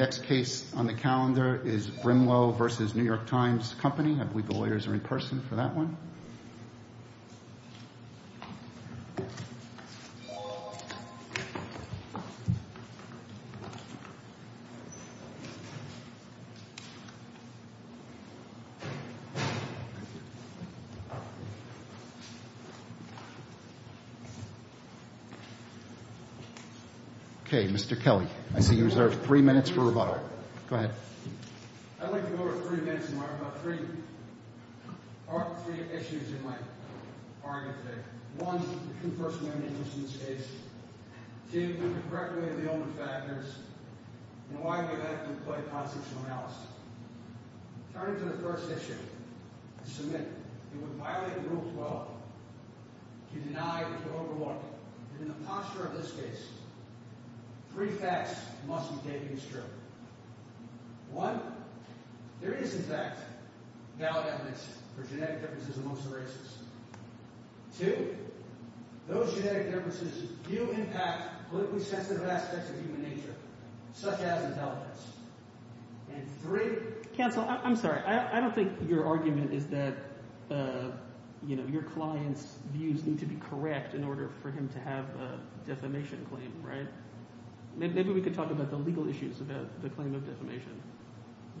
Next case on the calendar is Brimelow v. New York Times Company. I believe the lawyers are in person for that one. Okay, Mr. Kelly, I see you reserved three minutes for rebuttal. Go ahead. I'd like to go over three minutes and talk about three issues in my argument today. One, the true personality of this case. Two, the correct way of dealing with factors. And why we have to employ a constitutional analysis. Turning to the first issue, the submit, it would violate Rule 12 to deny or to overlook. And in the posture of this case, three facts must be taken as true. One, there is, in fact, valid evidence for genetic differences amongst the races. Two, those genetic differences do impact politically sensitive aspects of human nature, such as intelligence. And three— Counsel, I'm sorry. I don't think your argument is that your client's views need to be correct in order for him to have a defamation claim, right? Maybe we could talk about the legal issues about the claim of defamation.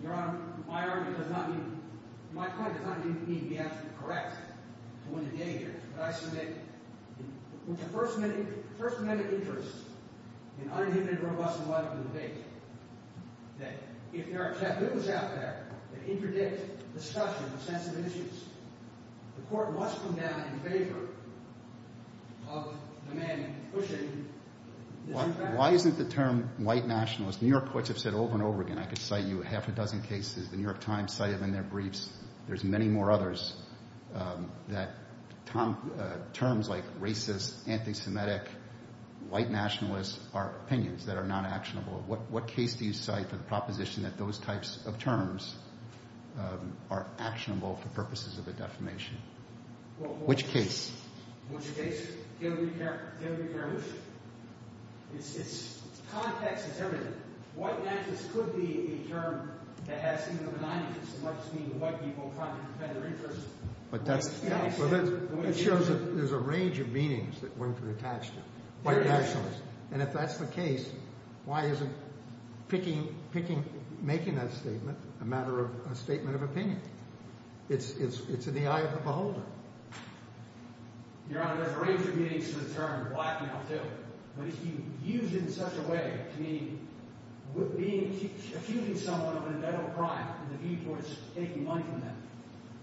Your Honor, my argument does not mean—my point does not mean he has to be correct to win the danger. But I submit, with the First Amendment interest in unenviable, robust, and liable debate, that if there are taboos out there that interdict discussion of sensitive issues, the Court must come down in favor of the man pushing this— Why isn't the term white nationalist? New York courts have said over and over again. I could cite you half a dozen cases. The New York Times cited them in their briefs. There's many more others that terms like racist, anti-Semitic, white nationalist are opinions that are not actionable. What case do you cite for the proposition that those types of terms are actionable for purposes of a defamation? Which case? Which case? It's context is everything. White nationalist could be a term that has some of the benignities of what people are trying to defend their interests. But that's— It shows that there's a range of meanings that one could attach to white nationalist. And if that's the case, why isn't picking—making that statement a matter of a statement of opinion? It's in the eye of the beholder. Your Honor, there's a range of meanings to the term black male, too. But if you use it in such a way, meaning with being—accusing someone of an individual crime, and the viewpoint is taking money from them,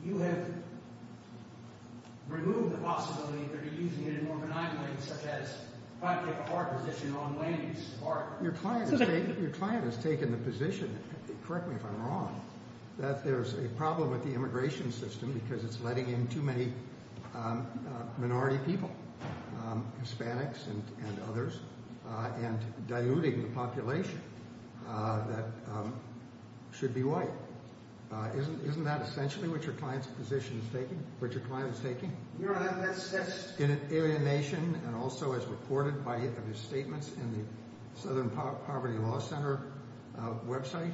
you have removed the possibility that you're using it in more benign ways, such as trying to take a hard position, wrong ways, or— Your client has taken the position—correct me if I'm wrong—that there's a problem with the immigration system because it's letting in too many minority people, Hispanics and others, and diluting the population that should be white. Isn't that essentially what your client's position is taking? What your client is taking? Your Honor, that's— In an alienation, and also as reported by his statements in the Southern Poverty Law Center website.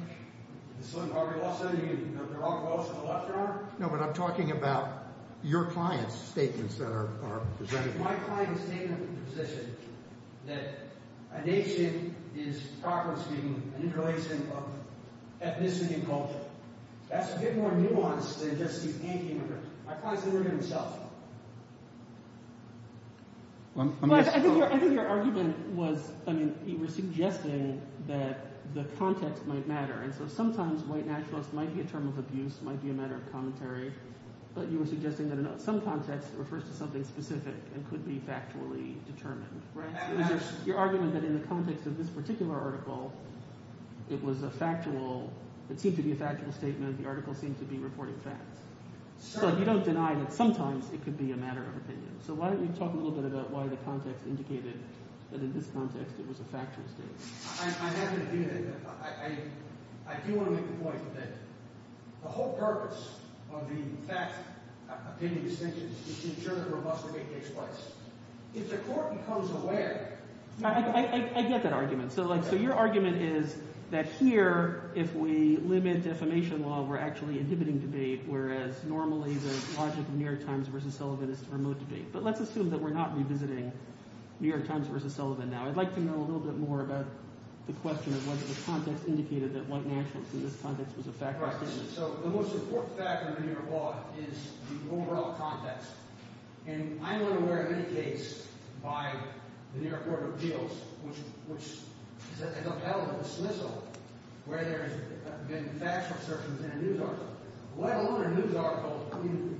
The Southern Poverty Law Center? You mean the blog post on the left corner? No, but I'm talking about your client's statements that are presented. My client has taken the position that a nation is, properly speaking, an interrelation of ethnicity and culture. That's a bit more nuanced than just the anti-immigrant—my client's the immigrant himself. I think your argument was—I mean, you were suggesting that the context might matter. And so sometimes white nationalists might be a term of abuse, might be a matter of commentary. But you were suggesting that some context refers to something specific and could be factually determined. Right? Your argument that in the context of this particular article, it was a factual—it seemed to be a factual statement. The article seemed to be reporting facts. So you don't deny that sometimes it could be a matter of opinion. So why don't you talk a little bit about why the context indicated that in this context it was a factual statement. I have an opinion. I do want to make the point that the whole purpose of the fact-opinion distinction is to ensure that a robust debate takes place. If the court becomes aware— I get that argument. So your argument is that here, if we limit defamation law, we're actually inhibiting debate, whereas normally the logic of New York Times v. Sullivan is to promote debate. But let's assume that we're not revisiting New York Times v. Sullivan now. I'd like to know a little bit more about the question of whether the context indicated that White Nationals, in this context, was a factual statement. Right. So the most important factor in the New York law is the overall context. And I'm unaware of any case by the New York Court of Appeals which has upheld a dismissal where there has been a factual assertion in a news article.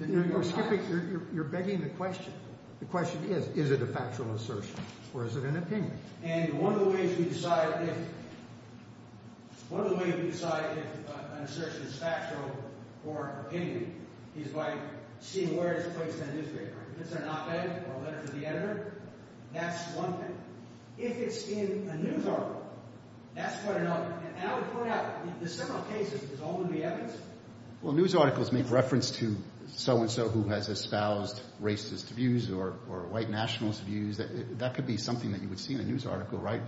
You're skipping—you're begging the question. The question is, is it a factual assertion or is it an opinion? And one of the ways we decide if—one of the ways we decide if an assertion is factual or opinion is by seeing where it's placed in a newspaper. Is it an op-ed or a letter to the editor? That's one thing. If it's in a news article, that's quite another. And I would point out, in several cases, it's all in the evidence. Well, news articles make reference to so-and-so who has espoused racist views or White Nationalist views. That could be something that you would see in a news article, right?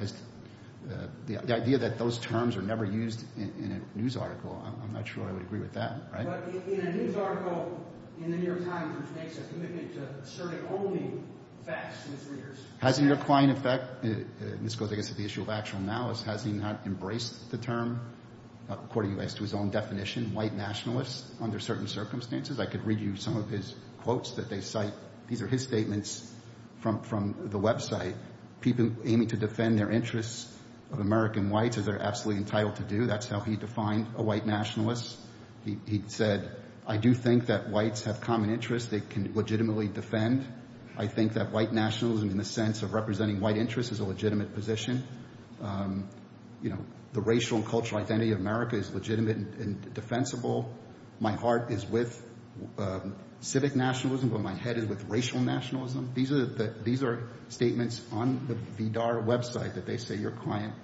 The idea that those terms are never used in a news article, I'm not sure I would agree with that, right? But in a news article in the New York Times which makes a commitment to asserting only facts to its readers— And this goes, I guess, to the issue of actual malice. Has he not embraced the term, according to his own definition, White Nationalist, under certain circumstances? I could read you some of his quotes that they cite. These are his statements from the website. People aiming to defend their interests of American Whites, as they're absolutely entitled to do. That's how he defined a White Nationalist. He said, I do think that Whites have common interests they can legitimately defend. I think that White Nationalism in the sense of representing White interests is a legitimate position. You know, the racial and cultural identity of America is legitimate and defensible. My heart is with civic nationalism, but my head is with racial nationalism. These are statements on the VDAR website that they say your client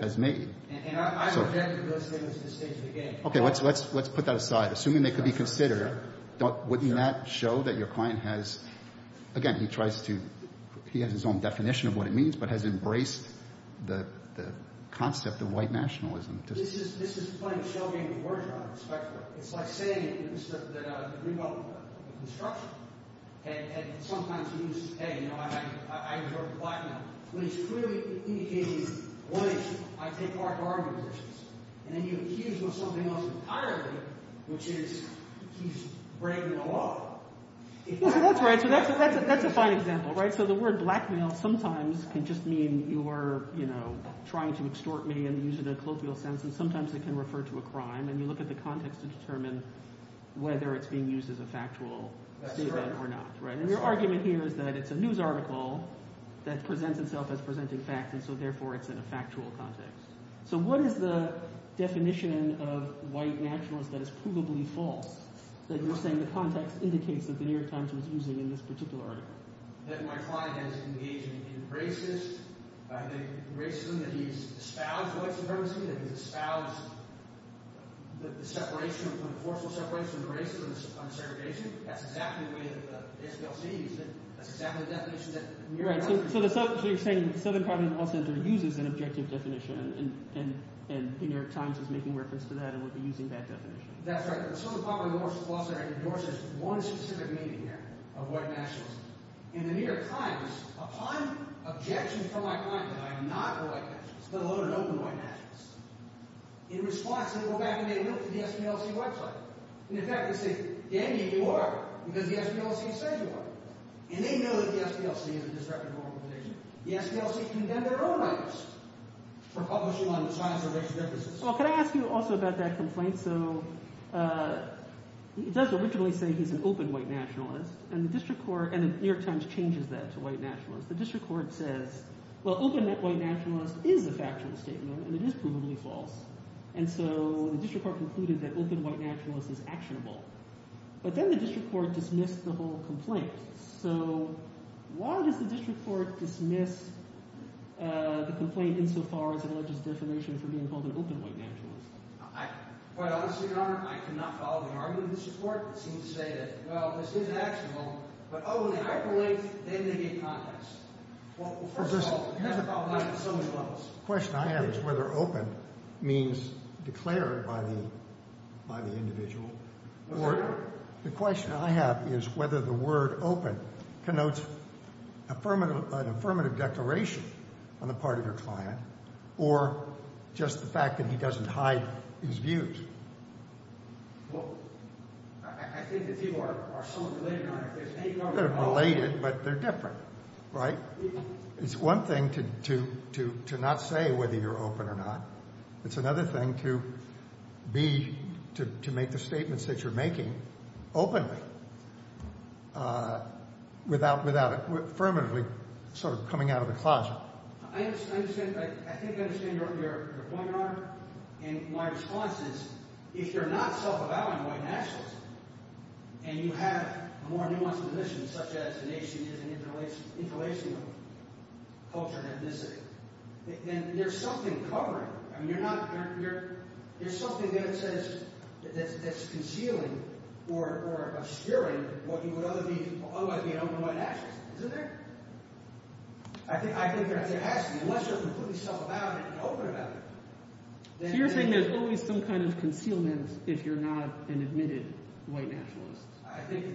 has made. And I object to those statements at this stage of the game. Okay, let's put that aside. Assuming they could be considered, wouldn't that show that your client has— Again, he tries to—he has his own definition of what it means, but has embraced the concept of White Nationalism. This is playing show game with words, Your Honor, respectfully. It's like saying that Greenbelt Construction had sometimes used, hey, you know, I adhere to Blackmail. But he's clearly indicating, wait, I take part in argumentations. And then you accuse him of something else entirely, which is he's breaking the law. That's right. So that's a fine example, right? So the word Blackmail sometimes can just mean you are, you know, trying to extort me and use it in a colloquial sense. And sometimes it can refer to a crime. And you look at the context to determine whether it's being used as a factual statement or not. And your argument here is that it's a news article that presents itself as presenting facts, and so therefore it's in a factual context. So what is the definition of White Nationalism that is provably false that you're saying the context indicates that The New York Times was using in this particular article? That my client has engaged in racism. I think racism that he's espoused white supremacy, that he's espoused the separation, the forceful separation of race from segregation. That's exactly the way that the SPLC uses it. That's exactly the definition that the New York Times uses. So you're saying the Southern Poverty Law Center uses an objective definition, and The New York Times is making reference to that and would be using that definition. That's right. The Southern Poverty Law Center endorses one specific meaning here of White Nationalism. In The New York Times, upon objection from my client that I am not a White Nationalist, let alone an open White Nationalist, in response they go back and they look at the SPLC website. And in fact they say, Daniel, you are, because the SPLC says you are. And they know that the SPLC is a disreputable organization. The SPLC condemned their own items for publishing on the science of racial differences. Well, can I ask you also about that complaint? So it does originally say he's an open White Nationalist, and the district court – and The New York Times changes that to White Nationalist. The district court says, well, open White Nationalist is a factual statement, and it is provably false. And so the district court concluded that open White Nationalist is actionable. But then the district court dismissed the whole complaint. So why does the district court dismiss the complaint insofar as it alleges defamation for being called an open White Nationalist? Well, Mr. Your Honor, I cannot follow the argument of the district court. It seems to say that, well, this is actionable, but oh, when they hyperlink, they negate context. Well, first of all, it has a problem at so many levels. The question I have is whether open means declared by the individual. The question I have is whether the word open connotes an affirmative declaration on the part of your client or just the fact that he doesn't hide his views. Well, I think the people are somewhat related on it. They're related, but they're different, right? It's one thing to not say whether you're open or not. It's another thing to be – to make the statements that you're making openly without affirmatively sort of coming out of the closet. Well, I understand – I think I understand your point, Your Honor, and my response is if you're not self-avowing White Nationalists and you have a more nuanced position such as a nation is an interrelation of culture and ethnicity, then there's something covering. I mean you're not – there's something there that says – that's concealing or obscuring what you would otherwise be an open White Nationalist. Isn't there? I think that's – actually, unless you're completely self-avowing and open about it, then – So you're saying there's always some kind of concealment if you're not an admitted White Nationalist? I think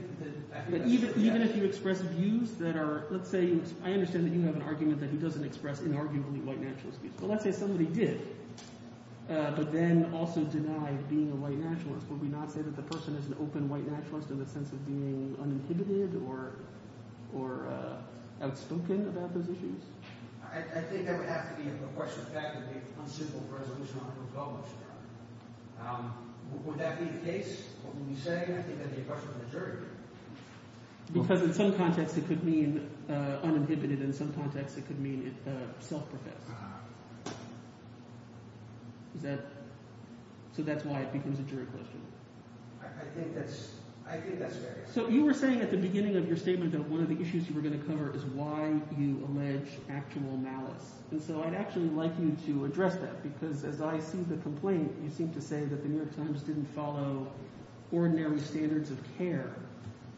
– But even if you express views that are – let's say you – I understand that you have an argument that he doesn't express inarguably White Nationalist views. Well, let's say somebody did, but then also denied being a White Nationalist. Would we not say that the person is an open White Nationalist in the sense of being uninhibited or outspoken about those issues? I think that would have to be a question of fact. It would be unsympathetic resolution on who goes. Would that be the case? What would we say? I think that would be a question for the jury. Because in some contexts it could mean uninhibited. In some contexts it could mean self-professed. Is that – so that's why it becomes a jury question? I think that's – I think that's fair. So you were saying at the beginning of your statement that one of the issues you were going to cover is why you allege actual malice. And so I'd actually like you to address that because as I see the complaint, you seem to say that The New York Times didn't follow ordinary standards of care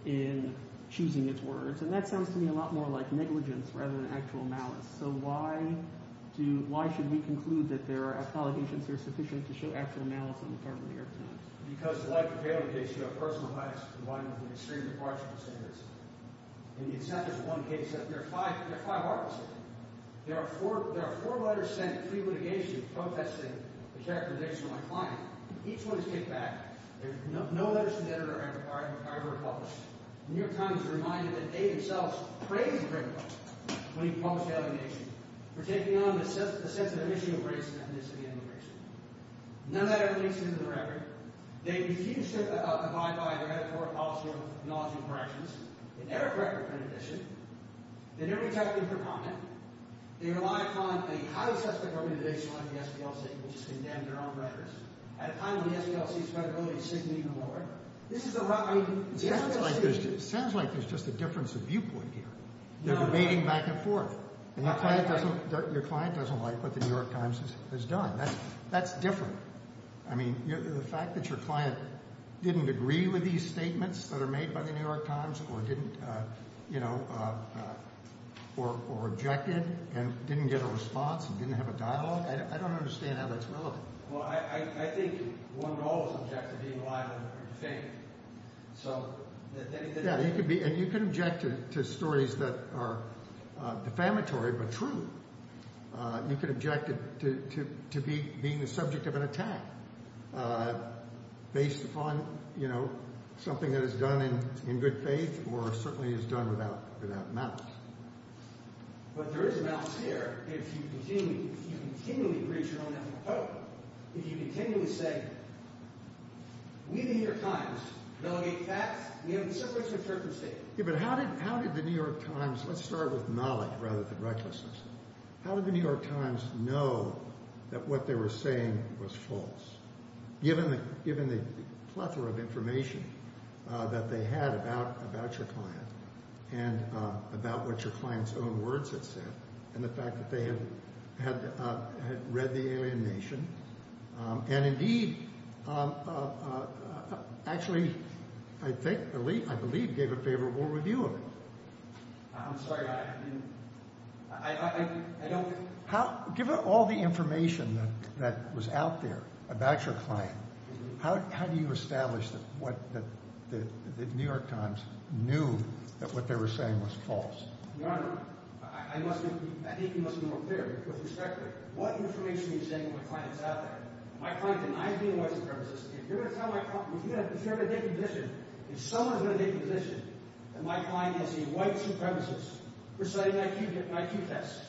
in choosing its words. And that sounds to me a lot more like negligence rather than actual malice. So why do – why should we conclude that there are allegations that are sufficient to show actual malice on the part of The New York Times? Because like the failure case, you have personal bias combined with an extremely partial dissenters. And the dissenters in one case – there are five articles in it. There are four letters sent pre-litigation protesting the characterization of my client. Each one is kicked back. No letters to the editor are ever published. The New York Times is reminded that they themselves praised Gregoire when he published the allegation for taking on the sensitive issue of race and ethnicity and immigration. None of that ever makes it into the record. They refuse to abide by their editorial policy or knowledge of corrections. They never correct their condition. They never retract their comment. They rely upon a highly suspect organization like the SPLC, which has condemned their own records. At a time when the SPLC's credibility is significantly lower, this is a – I mean – It sounds like there's just a difference of viewpoint here. They're debating back and forth. And your client doesn't like what The New York Times has done. That's different. I mean the fact that your client didn't agree with these statements that are made by The New York Times or didn't, you know – or rejected and didn't get a response and didn't have a dialogue, I don't understand how that's relevant. Well, I think one would always object to being a liar and a defamatory. So – Yeah, you could be – and you could object to stories that are defamatory but true. You could object to being the subject of an attack based upon, you know, something that is done in good faith or certainly is done without malice. But there is a balance here if you continually breach your own ethical code. If you continually say, we, The New York Times, delegate facts. We have the circuits of certain states. Yeah, but how did The New York Times – let's start with knowledge rather than recklessness. How did The New York Times know that what they were saying was false? Given the plethora of information that they had about your client and about what your client's own words had said and the fact that they had read the alienation and indeed actually I think – I believe gave a favorable review of it. I'm sorry. I don't – Given all the information that was out there about your client, how do you establish that The New York Times knew that what they were saying was false? Your Honor, I think you must be more clear with respect to what information you're saying my client is out there. My client denies being a white supremacist. If you're going to tell my client – if you're going to make a decision, if someone is going to make a decision that my client is a white supremacist, we're citing an IQ test.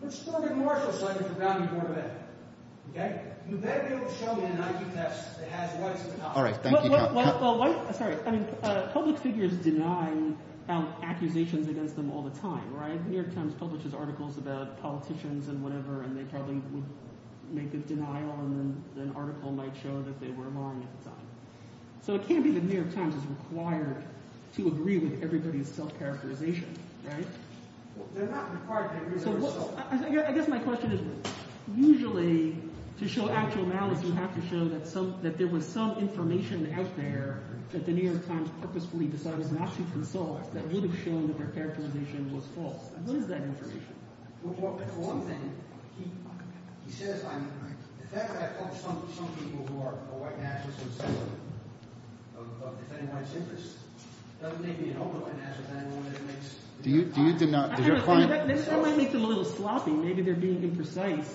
We're just going to make a martial assessment of the value of your event. You better be able to show me an IQ test that has whites in the top. All right, thank you. Sorry. I mean public figures deny accusations against them all the time. The New York Times publishes articles about politicians and whatever, and they probably would make a denial. And then an article might show that they were lying at the time. So it can't be The New York Times is required to agree with everybody's self-characterization, right? They're not required to agree with everybody's self-characterization. I guess my question is usually to show actual malice, you have to show that some – that there was some information out there that The New York Times purposefully decided not to consult that would have shown that their characterization was false. What is that information? Well, one thing, he says I'm – the fact that I publish some people who are white nationalists instead of defending white supremacists doesn't make me an open white nationalist. I don't know whether that makes – Do you deny – does your client – I don't know. Maybe that might make them a little sloppy. Maybe they're being imprecise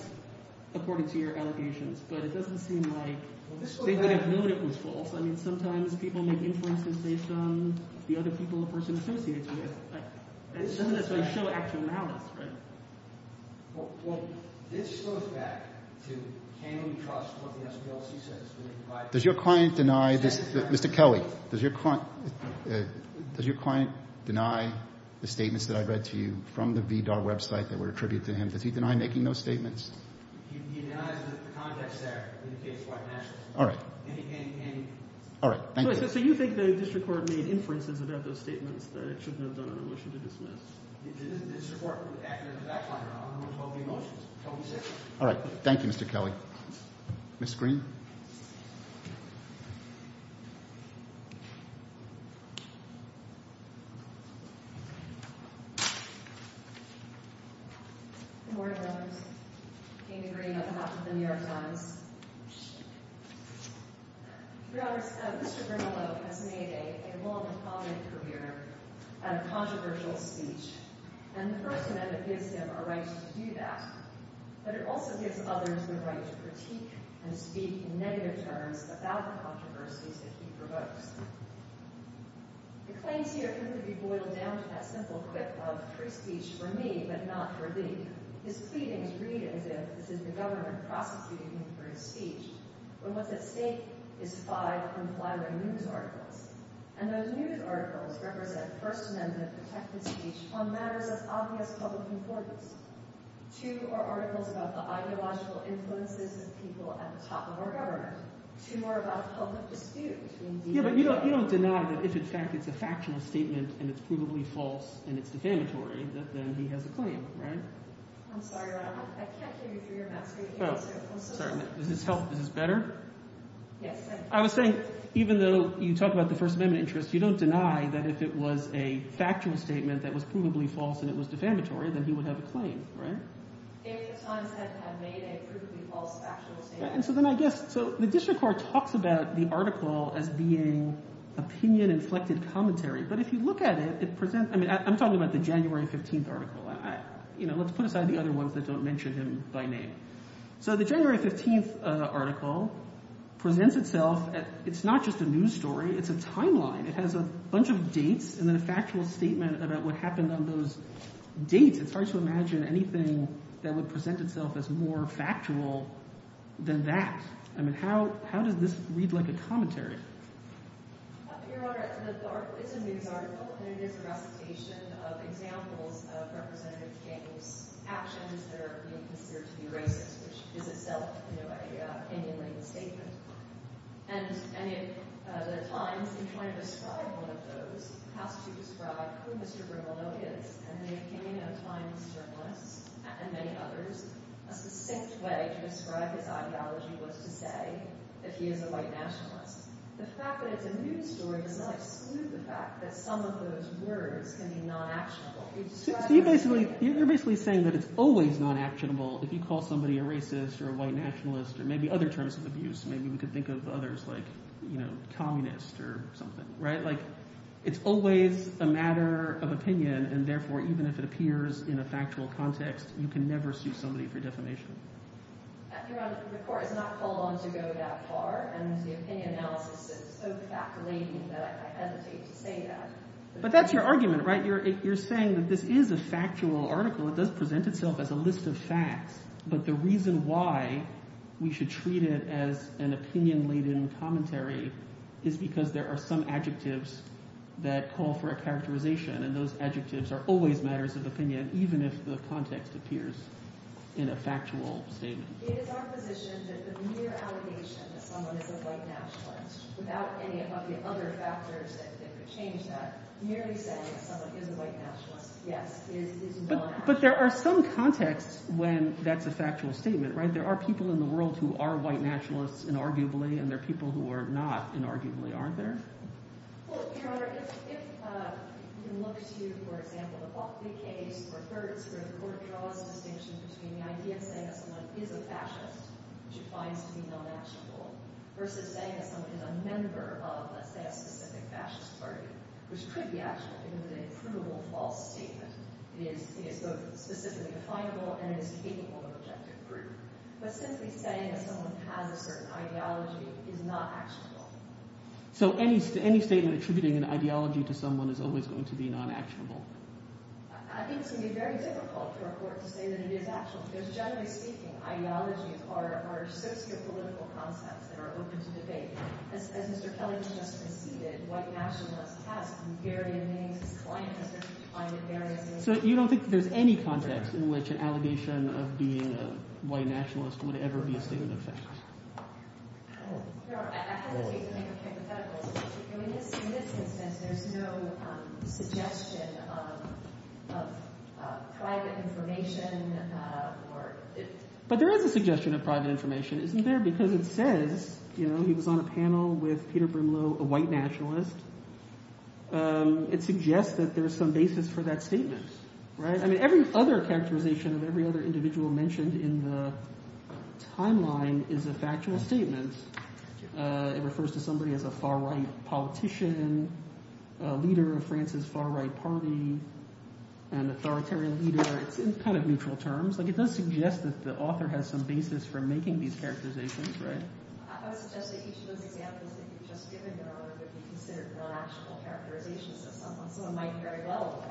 according to your allegations. But it doesn't seem like they would have known it was false. I mean sometimes people make inferences based on the other people a person associates with. And some of this would show actual malice, right? Well, this goes back to can we trust what the SPLC says? Does your client deny this – Mr. Kelly, does your client deny the statements that I read to you from the VDAR website that were attributed to him? Does he deny making those statements? He denies the context there in the case of white nationalists. All right. And – All right. Thank you. So you think the district court made inferences about those statements that it shouldn't have done on a motion to dismiss? The district court acted as a back liner on one of the motions. All right. Thank you, Mr. Kelly. Ms. Green. Good morning, Your Honors. Amy Green, on behalf of the New York Times. Your Honors, Mr. Grimelow has made a long and prominent career out of controversial speech. And the first amendment gives him a right to do that. But it also gives others the right to critique and speak in negative terms about the controversies that he provokes. The claims here seem to be boiled down to that simple quip of free speech for me but not for thee. His pleadings read as if this is the government prosecuting him for his speech. But what's at stake is five unflattering news articles. And those news articles represent first amendment protected speech on matters of obvious public importance. Two are articles about the ideological influences of people at the top of our government. Two are about public dispute. Yeah, but you don't deny that if in fact it's a factional statement and it's provably false and it's defamatory, then he has a claim, right? I'm sorry, Your Honor. I can't hear you through your mask. Oh, sorry. Does this help? Is this better? Yes. I was saying even though you talk about the first amendment interest, you don't deny that if it was a factual statement that was provably false and it was defamatory, then he would have a claim, right? The New York Times had made a provably false factual statement. And so then I guess – so the district court talks about the article as being opinion-inflected commentary. But if you look at it, it presents – I mean I'm talking about the January 15th article. Let's put aside the other ones that don't mention him by name. So the January 15th article presents itself – it's not just a news story. It's a timeline. It has a bunch of dates and then a factual statement about what happened on those dates. It's hard to imagine anything that would present itself as more factual than that. I mean how does this read like a commentary? Your Honor, the article – it's a news article and it is a recitation of examples of Representative King's actions that are being considered to be racist, which is itself an opinion-laden statement. And the Times, in trying to describe one of those, has to describe who Mr. Brimelow is. And the opinion of Times journalists and many others, a succinct way to describe his ideology was to say that he is a white nationalist. The fact that it's a news story does not exclude the fact that some of those words can be non-actionable. So you're basically saying that it's always non-actionable if you call somebody a racist or a white nationalist or maybe other terms of abuse. Maybe we could think of others like communist or something, right? Like it's always a matter of opinion, and therefore even if it appears in a factual context, you can never sue somebody for defamation. Your Honor, the court is not called on to go that far, and the opinion analysis is so fact-laden that I hesitate to say that. But that's your argument, right? You're saying that this is a factual article. It does present itself as a list of facts. But the reason why we should treat it as an opinion-laden commentary is because there are some adjectives that call for a characterization. And those adjectives are always matters of opinion, even if the context appears in a factual statement. It is our position that the mere allegation that someone is a white nationalist without any of the other factors that could change that, merely saying that someone is a white nationalist, yes, is non-actionable. But there are some contexts when that's a factual statement, right? There are people in the world who are white naturalists inarguably, and there are people who are not inarguably, aren't there? Well, Your Honor, if you can look to, for example, the Buckley case or Hertz, where the court draws a distinction between the idea of saying that someone is a fascist, which it finds to be non-actionable, versus saying that someone is a member of, let's say, a specific fascist party, which could be actionable, even with a provable false statement. It is both specifically definable and it is capable of objective proof. But simply saying that someone has a certain ideology is not actionable. So any statement attributing an ideology to someone is always going to be non-actionable. I think it's going to be very difficult for a court to say that it is actionable because generally speaking, ideologies are socio-political concepts that are open to debate. As Mr. Kelly just conceded, white nationalists have various names. His client has been defined in various names. So you don't think that there's any context in which an allegation of being a white nationalist would ever be a statement of fact? No, I have to say something hypothetical. In this instance, there's no suggestion of private information. But there is a suggestion of private information, isn't there, because it says he was on a panel with Peter Brimlow, a white nationalist. It suggests that there is some basis for that statement. Every other characterization of every other individual mentioned in the timeline is a factual statement. It refers to somebody as a far-right politician, a leader of France's far-right party, an authoritarian leader. It's in kind of neutral terms. It does suggest that the author has some basis for making these characterizations. I would suggest that each of those examples that you've just given are what would be considered non-actionable characterizations of someone. Someone might very well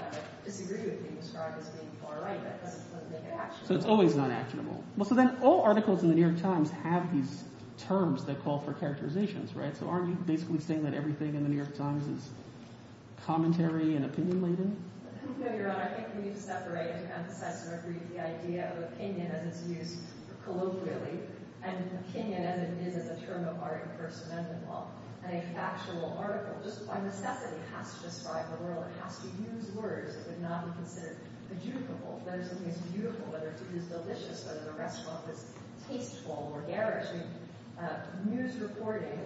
disagree with being described as being far-right, but that doesn't make it actionable. So it's always non-actionable. Well, so then all articles in The New York Times have these terms that call for characterizations, right? So aren't you basically saying that everything in The New York Times is commentary and opinion-laden? No, Your Honor. I think we need to separate and to emphasize and to agree with the idea of opinion as it's used colloquially. And opinion as it is a term of art in First Amendment law. And a factual article just by necessity has to describe the world. It has to use words that would not be considered adjudicable. Whether something is beautiful, whether it is delicious, whether the restaurant is tasteful or garish. News reporting,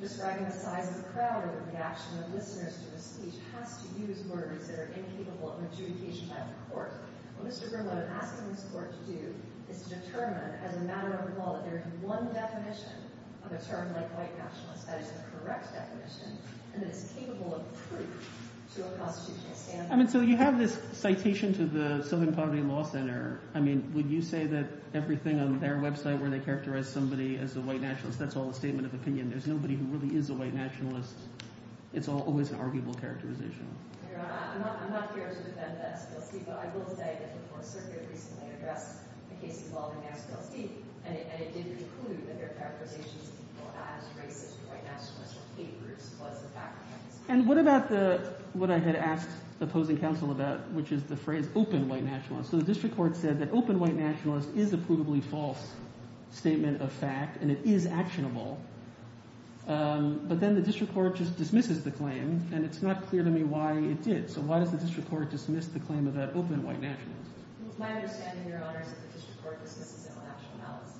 describing the size of the crowd or the reaction of listeners to a speech has to use words that are incapable of adjudication by the court. What Mr. Grimlow is asking this court to do is to determine as a matter of law that there is one definition of a term like white nationalist that is a correct definition and that is capable of proof to a constitutional standard. I mean, so you have this citation to the Southern Poverty Law Center. I mean, would you say that everything on their website where they characterize somebody as a white nationalist, that's all a statement of opinion? There's nobody who really is a white nationalist. It's always an arguable characterization. I'm not here to defend the SLC, but I will say that the Fourth Circuit recently addressed the case involving the SLC. And it did conclude that their characterization of people as racist white nationalists or hate groups was a fact. And what about the – what I had asked the opposing counsel about, which is the phrase open white nationalist? So the district court said that open white nationalist is a provably false statement of fact and it is actionable. But then the district court just dismisses the claim, and it's not clear to me why it did. So why does the district court dismiss the claim of that open white nationalist? It was my understanding, Your Honors, that the district court dismisses it with actual malice.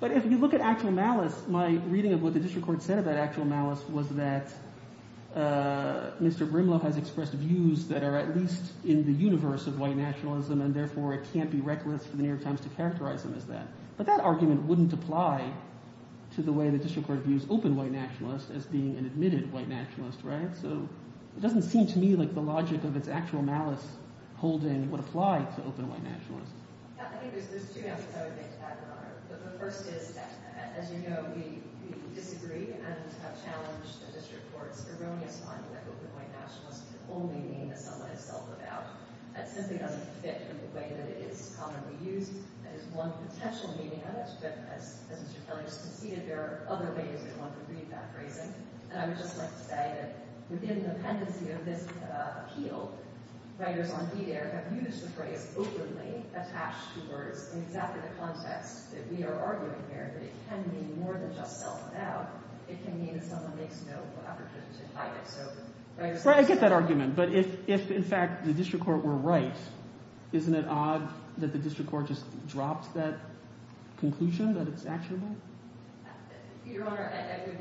But if you look at actual malice, my reading of what the district court said about actual malice was that Mr. Grimlow has expressed views that are at least in the universe of white nationalism, and therefore it can't be reckless for The New York Times to characterize them as that. But that argument wouldn't apply to the way the district court views open white nationalists as being an admitted white nationalist, right? So it doesn't seem to me like the logic of its actual malice holding would apply to open white nationalists. Yeah, I think there's two answers I would make to that, Your Honor. The first is that, as you know, we disagree and have challenged the district court's erroneous finding that open white nationalists can only mean that someone has felt without. That simply doesn't fit in the way that it is commonly used. That is one potential meaning of it, but as Mr. Kelly just conceded, there are other ways we want to read that phrasing. And I would just like to say that within the pendency of this appeal, writers on PDAIR have used the phrase openly attached to words in exactly the context that we are arguing here. But it can mean more than just felt without. It can mean that someone makes no effort to hide it. Right, I get that argument. But if, in fact, the district court were right, isn't it odd that the district court just dropped that conclusion that it's actionable? Your Honor, I would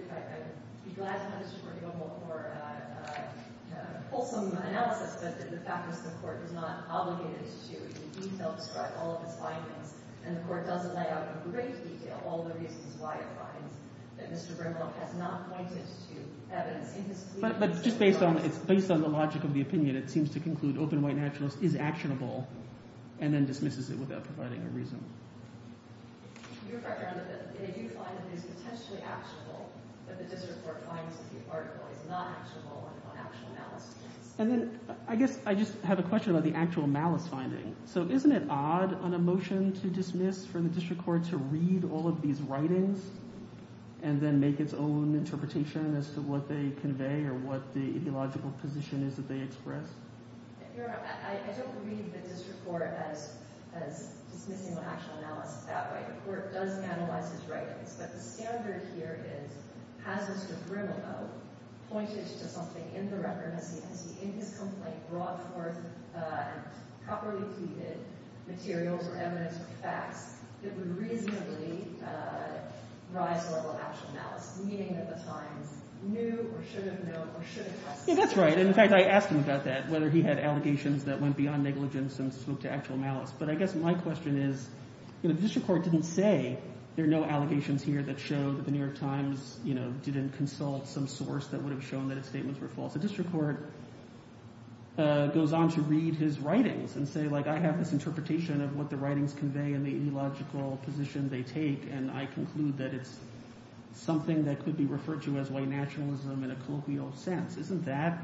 be glad to have this report go for a wholesome analysis, but the fact is the court is not obligated to in detail describe all of its findings. And the court does lay out in great detail all the reasons why it finds that Mr. Brimlock has not pointed to evidence in his plea. But just based on the logic of the opinion, it seems to conclude open white nationalist is actionable and then dismisses it without providing a reason. Your Honor, they do find that it is potentially actionable, but the district court finds that the article is not actionable on actual malice points. And then I guess I just have a question about the actual malice finding. So isn't it odd on a motion to dismiss for the district court to read all of these writings and then make its own interpretation as to what they convey or what the ideological position is that they express? Your Honor, I don't read the district court as dismissing the actual malice that way. The court does analyze its writings, but the standard here is has Mr. Brimlock pointed to something in the record? Has he, in his complaint, brought forth properly pleaded materials or evidence or facts that would reasonably rise the level of actual malice, meaning that the Times knew or should have known or should have trusted? That's right. In fact, I asked him about that, whether he had allegations that went beyond negligence and spoke to actual malice. But I guess my question is, you know, the district court didn't say there are no allegations here that show that the New York Times, you know, didn't consult some source that would have shown that his statements were false. The district court goes on to read his writings and say, like, I have this interpretation of what the writings convey and the ideological position they take, and I conclude that it's something that could be referred to as white nationalism in a colloquial sense. Isn't that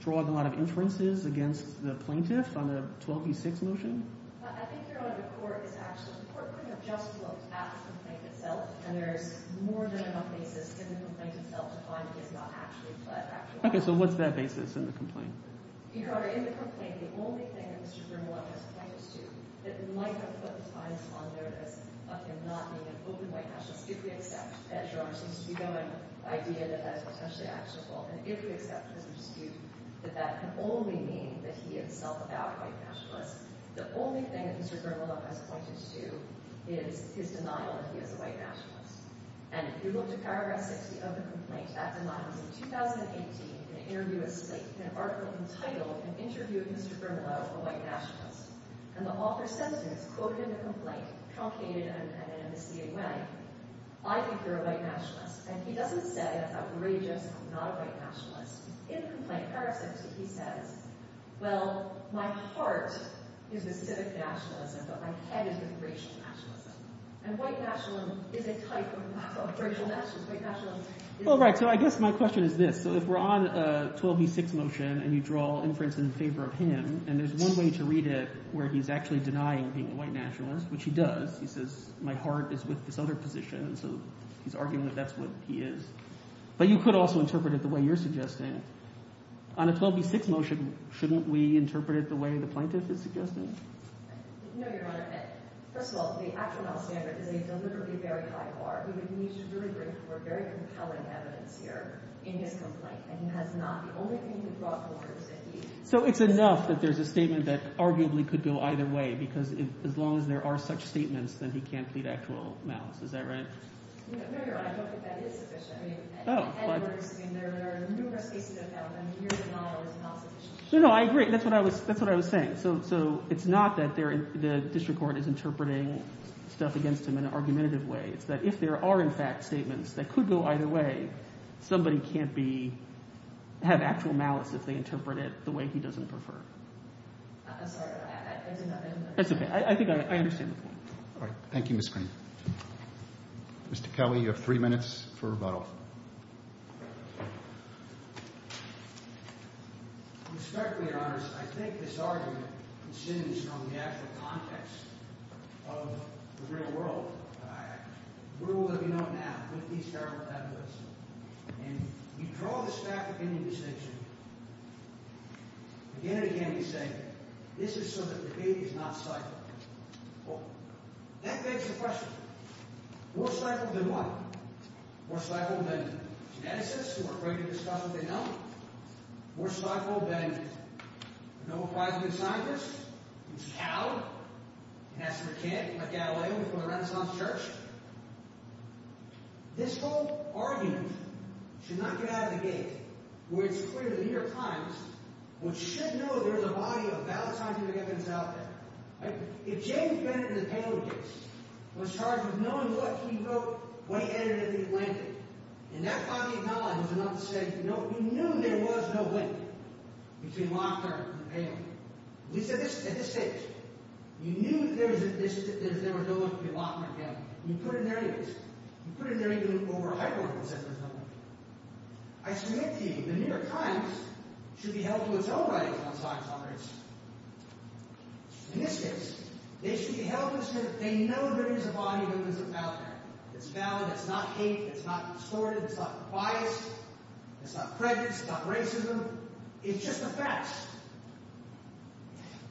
drawing a lot of inferences against the plaintiff on the 12v6 motion? I think, Your Honor, the court is actually – the court couldn't have just looked at the complaint itself, and there is more than enough basis in the complaint itself to find that he has not actually pled actual malice. Okay. So what's that basis in the complaint? Your Honor, in the complaint, the only thing that Mr. Brimlock has pointed to that might have put the Times on their list of him not being an open white nationalist, if we accept, as Your Honor seems to be doing, the idea that that is potentially actionable, and if we accept, as you dispute, that that can only mean that he is self-about white nationalist, the only thing that Mr. Brimlock has pointed to is his denial that he is a white nationalist. And if you look to paragraph 60 of the complaint, that denial is, in 2018, in an interview with Slate, an article entitled An Interview of Mr. Brimlock, a White Nationalist. And the author says this, quoted in the complaint, truncated and in a misleading way, I think you're a white nationalist. And he doesn't say I'm outrageous, I'm not a white nationalist. In the complaint, paragraph 60, he says, well, my heart is with civic nationalism, but my head is with racial nationalism. And white nationalism is a type of racial nationalism. All right, so I guess my question is this. So if we're on a 12b6 motion and you draw inference in favor of him, and there's one way to read it where he's actually denying being a white nationalist, which he does, he says, my heart is with this other position. So he's arguing that that's what he is. But you could also interpret it the way you're suggesting. On a 12b6 motion, shouldn't we interpret it the way the plaintiff is suggesting? No, Your Honor. First of all, the actual malice standard is a deliberately very high bar. We would need to really bring forward very compelling evidence here in this complaint. And he has not – the only thing he brought forward is that he – So it's enough that there's a statement that arguably could go either way because as long as there are such statements, then he can't plead actual malice. Is that right? No, Your Honor. I don't think that is sufficient. Oh, but – There are numerous cases of malice, and here the model is not sufficient. No, no, I agree. That's what I was saying. So it's not that the district court is interpreting stuff against him in an argumentative way. It's that if there are, in fact, statements that could go either way, somebody can't be – have actual malice if they interpret it the way he doesn't prefer. I'm sorry. I didn't understand. That's okay. I think I understand the point. All right. Thank you, Ms. Green. Mr. Kelly, you have three minutes for rebuttal. Respectfully, Your Honor, I think this argument consumes from the actual context of the real world. We're all living on an app. Look at these terrible tablets. And you draw the stack of any distinction. Again and again, you say this is so that the debate is not cycled. Well, that begs the question. More cycled than what? More cycled than geneticists who are afraid to discuss what they know? More cycled than Nobel Prize-winning scientists who cowed and asked for a kid and left Galileo before the Renaissance church? This whole argument should not get out of the gate. For it's clear that in your times, what you should know is there is a body of valentine's significance out there. If James Bennett of the Taylor case was charged with knowing what he wrote when he entered into the Atlantic, and that body of knowledge was enough to say, you know, you knew there was no link between Lockhart and Taylor. At this stage, you knew there was no link between Lockhart and Taylor. You put it in their interest. You put it in their interest over a hypothetical set of assumptions. I submit to you the New York Times should be held to its own writings on science operations. In this case, they should be held to the truth. They know there is a body of wisdom out there. It's valid. It's not hate. It's not distorted. It's not biased. It's not prejudice. It's not racism. It's just a fact.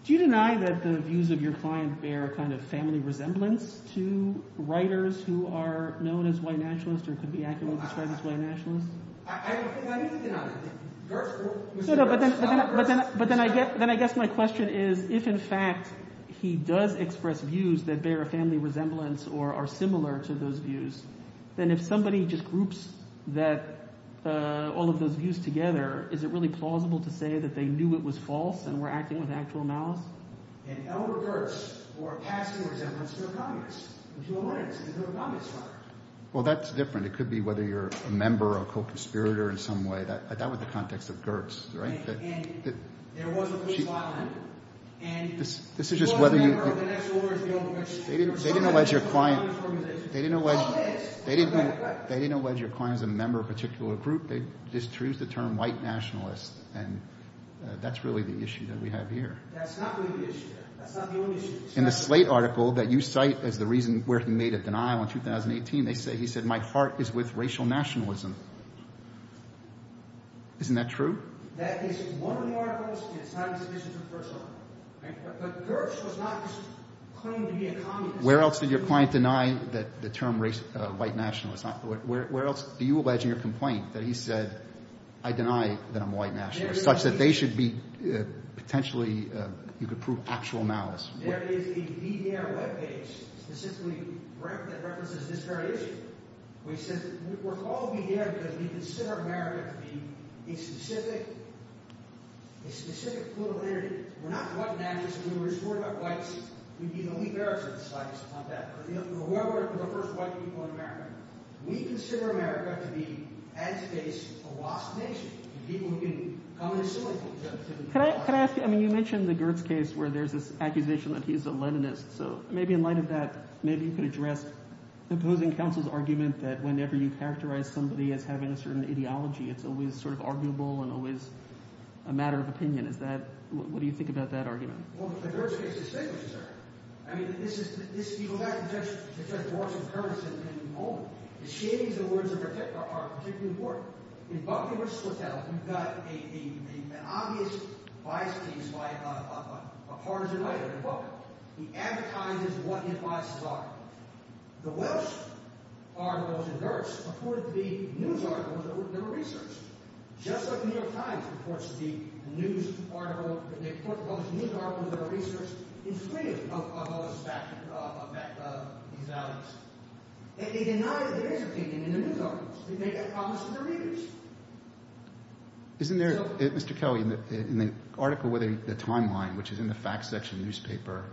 Do you deny that the views of your client bear a kind of family resemblance to writers who are known as white nationalists or could be accurately described as white nationalists? I don't think I need to deny that. No, but then I guess my question is if, in fact, he does express views that bear a family resemblance or are similar to those views, then if somebody just groups all of those views together, is it really plausible to say that they knew it was false and were acting with actual malice? Well, that's different. It could be whether you're a member or a co-conspirator in some way. That was the context of Gertz, right? They didn't allege your client as a member of a particular group. They just used the term white nationalist, and that's really the issue that we have here. In the Slate article that you cite as the reason where he made a denial in 2018, he said, My heart is with racial nationalism. Isn't that true? Where else did your client deny the term white nationalist? Where else do you allege in your complaint that he said, I deny that I'm a white nationalist, such that they should be potentially – you could prove actual malice? Well, he says, we're called to be here because we consider America to be a specific political entity. We're not white nationalists. If we were to report about whites, we'd be the only bearers of the slightest amount of malice. We're the first white people in America. We consider America to be, as it is, a lost nation. People who can come and assist us. Can I ask you – I mean, you mentioned the Gertz case where there's this accusation that he's a Leninist. So maybe in light of that, maybe you could address the opposing counsel's argument that whenever you characterize somebody as having a certain ideology, it's always sort of arguable and always a matter of opinion. Is that – what do you think about that argument? Well, the Gertz case is significant, sir. I mean, this is – if you go back to Judge Walsh and Curtis at any moment, the shadings of the words are particularly important. In Buckley v. Slatel, you've got an obvious bias case by a partisan writer. He advertises what his biases are. The Welsh articles in Gertz reported to be news articles that were never researched. Just like The New York Times reports to be news articles – they report published news articles that are researched in freedom of those facts – of these allegations. They denied that they're intervening in the news articles. They made that promise to their readers. Isn't there – Mr. Kelly, in the article with the timeline, which is in the fact section of the newspaper,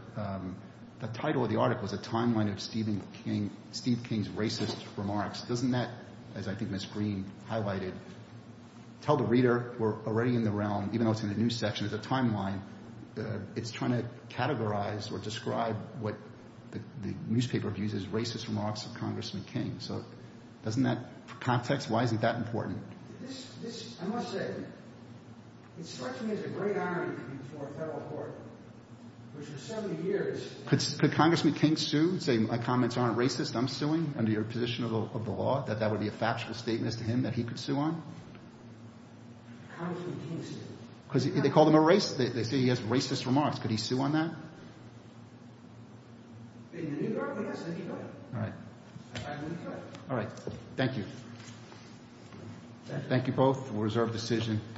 the title of the article is a timeline of Stephen King – Steve King's racist remarks. Doesn't that, as I think Ms. Green highlighted, tell the reader we're already in the realm, even though it's in the news section, as a timeline? It's trying to categorize or describe what the newspaper views as racist remarks of Congressman King. So doesn't that – for context, why is it that important? This – I must say, it struck me as a great irony before a federal court, which for 70 years – Could Congressman King sue and say my comments aren't racist, I'm suing under your position of the law, that that would be a factual statement as to him that he could sue on? Congressman King sued. Because they call him a racist – they say he has racist remarks. Could he sue on that? In the New York – yes, in the New York. All right. In the New York. All right. Thank you. Thank you both. We'll reserve the decision.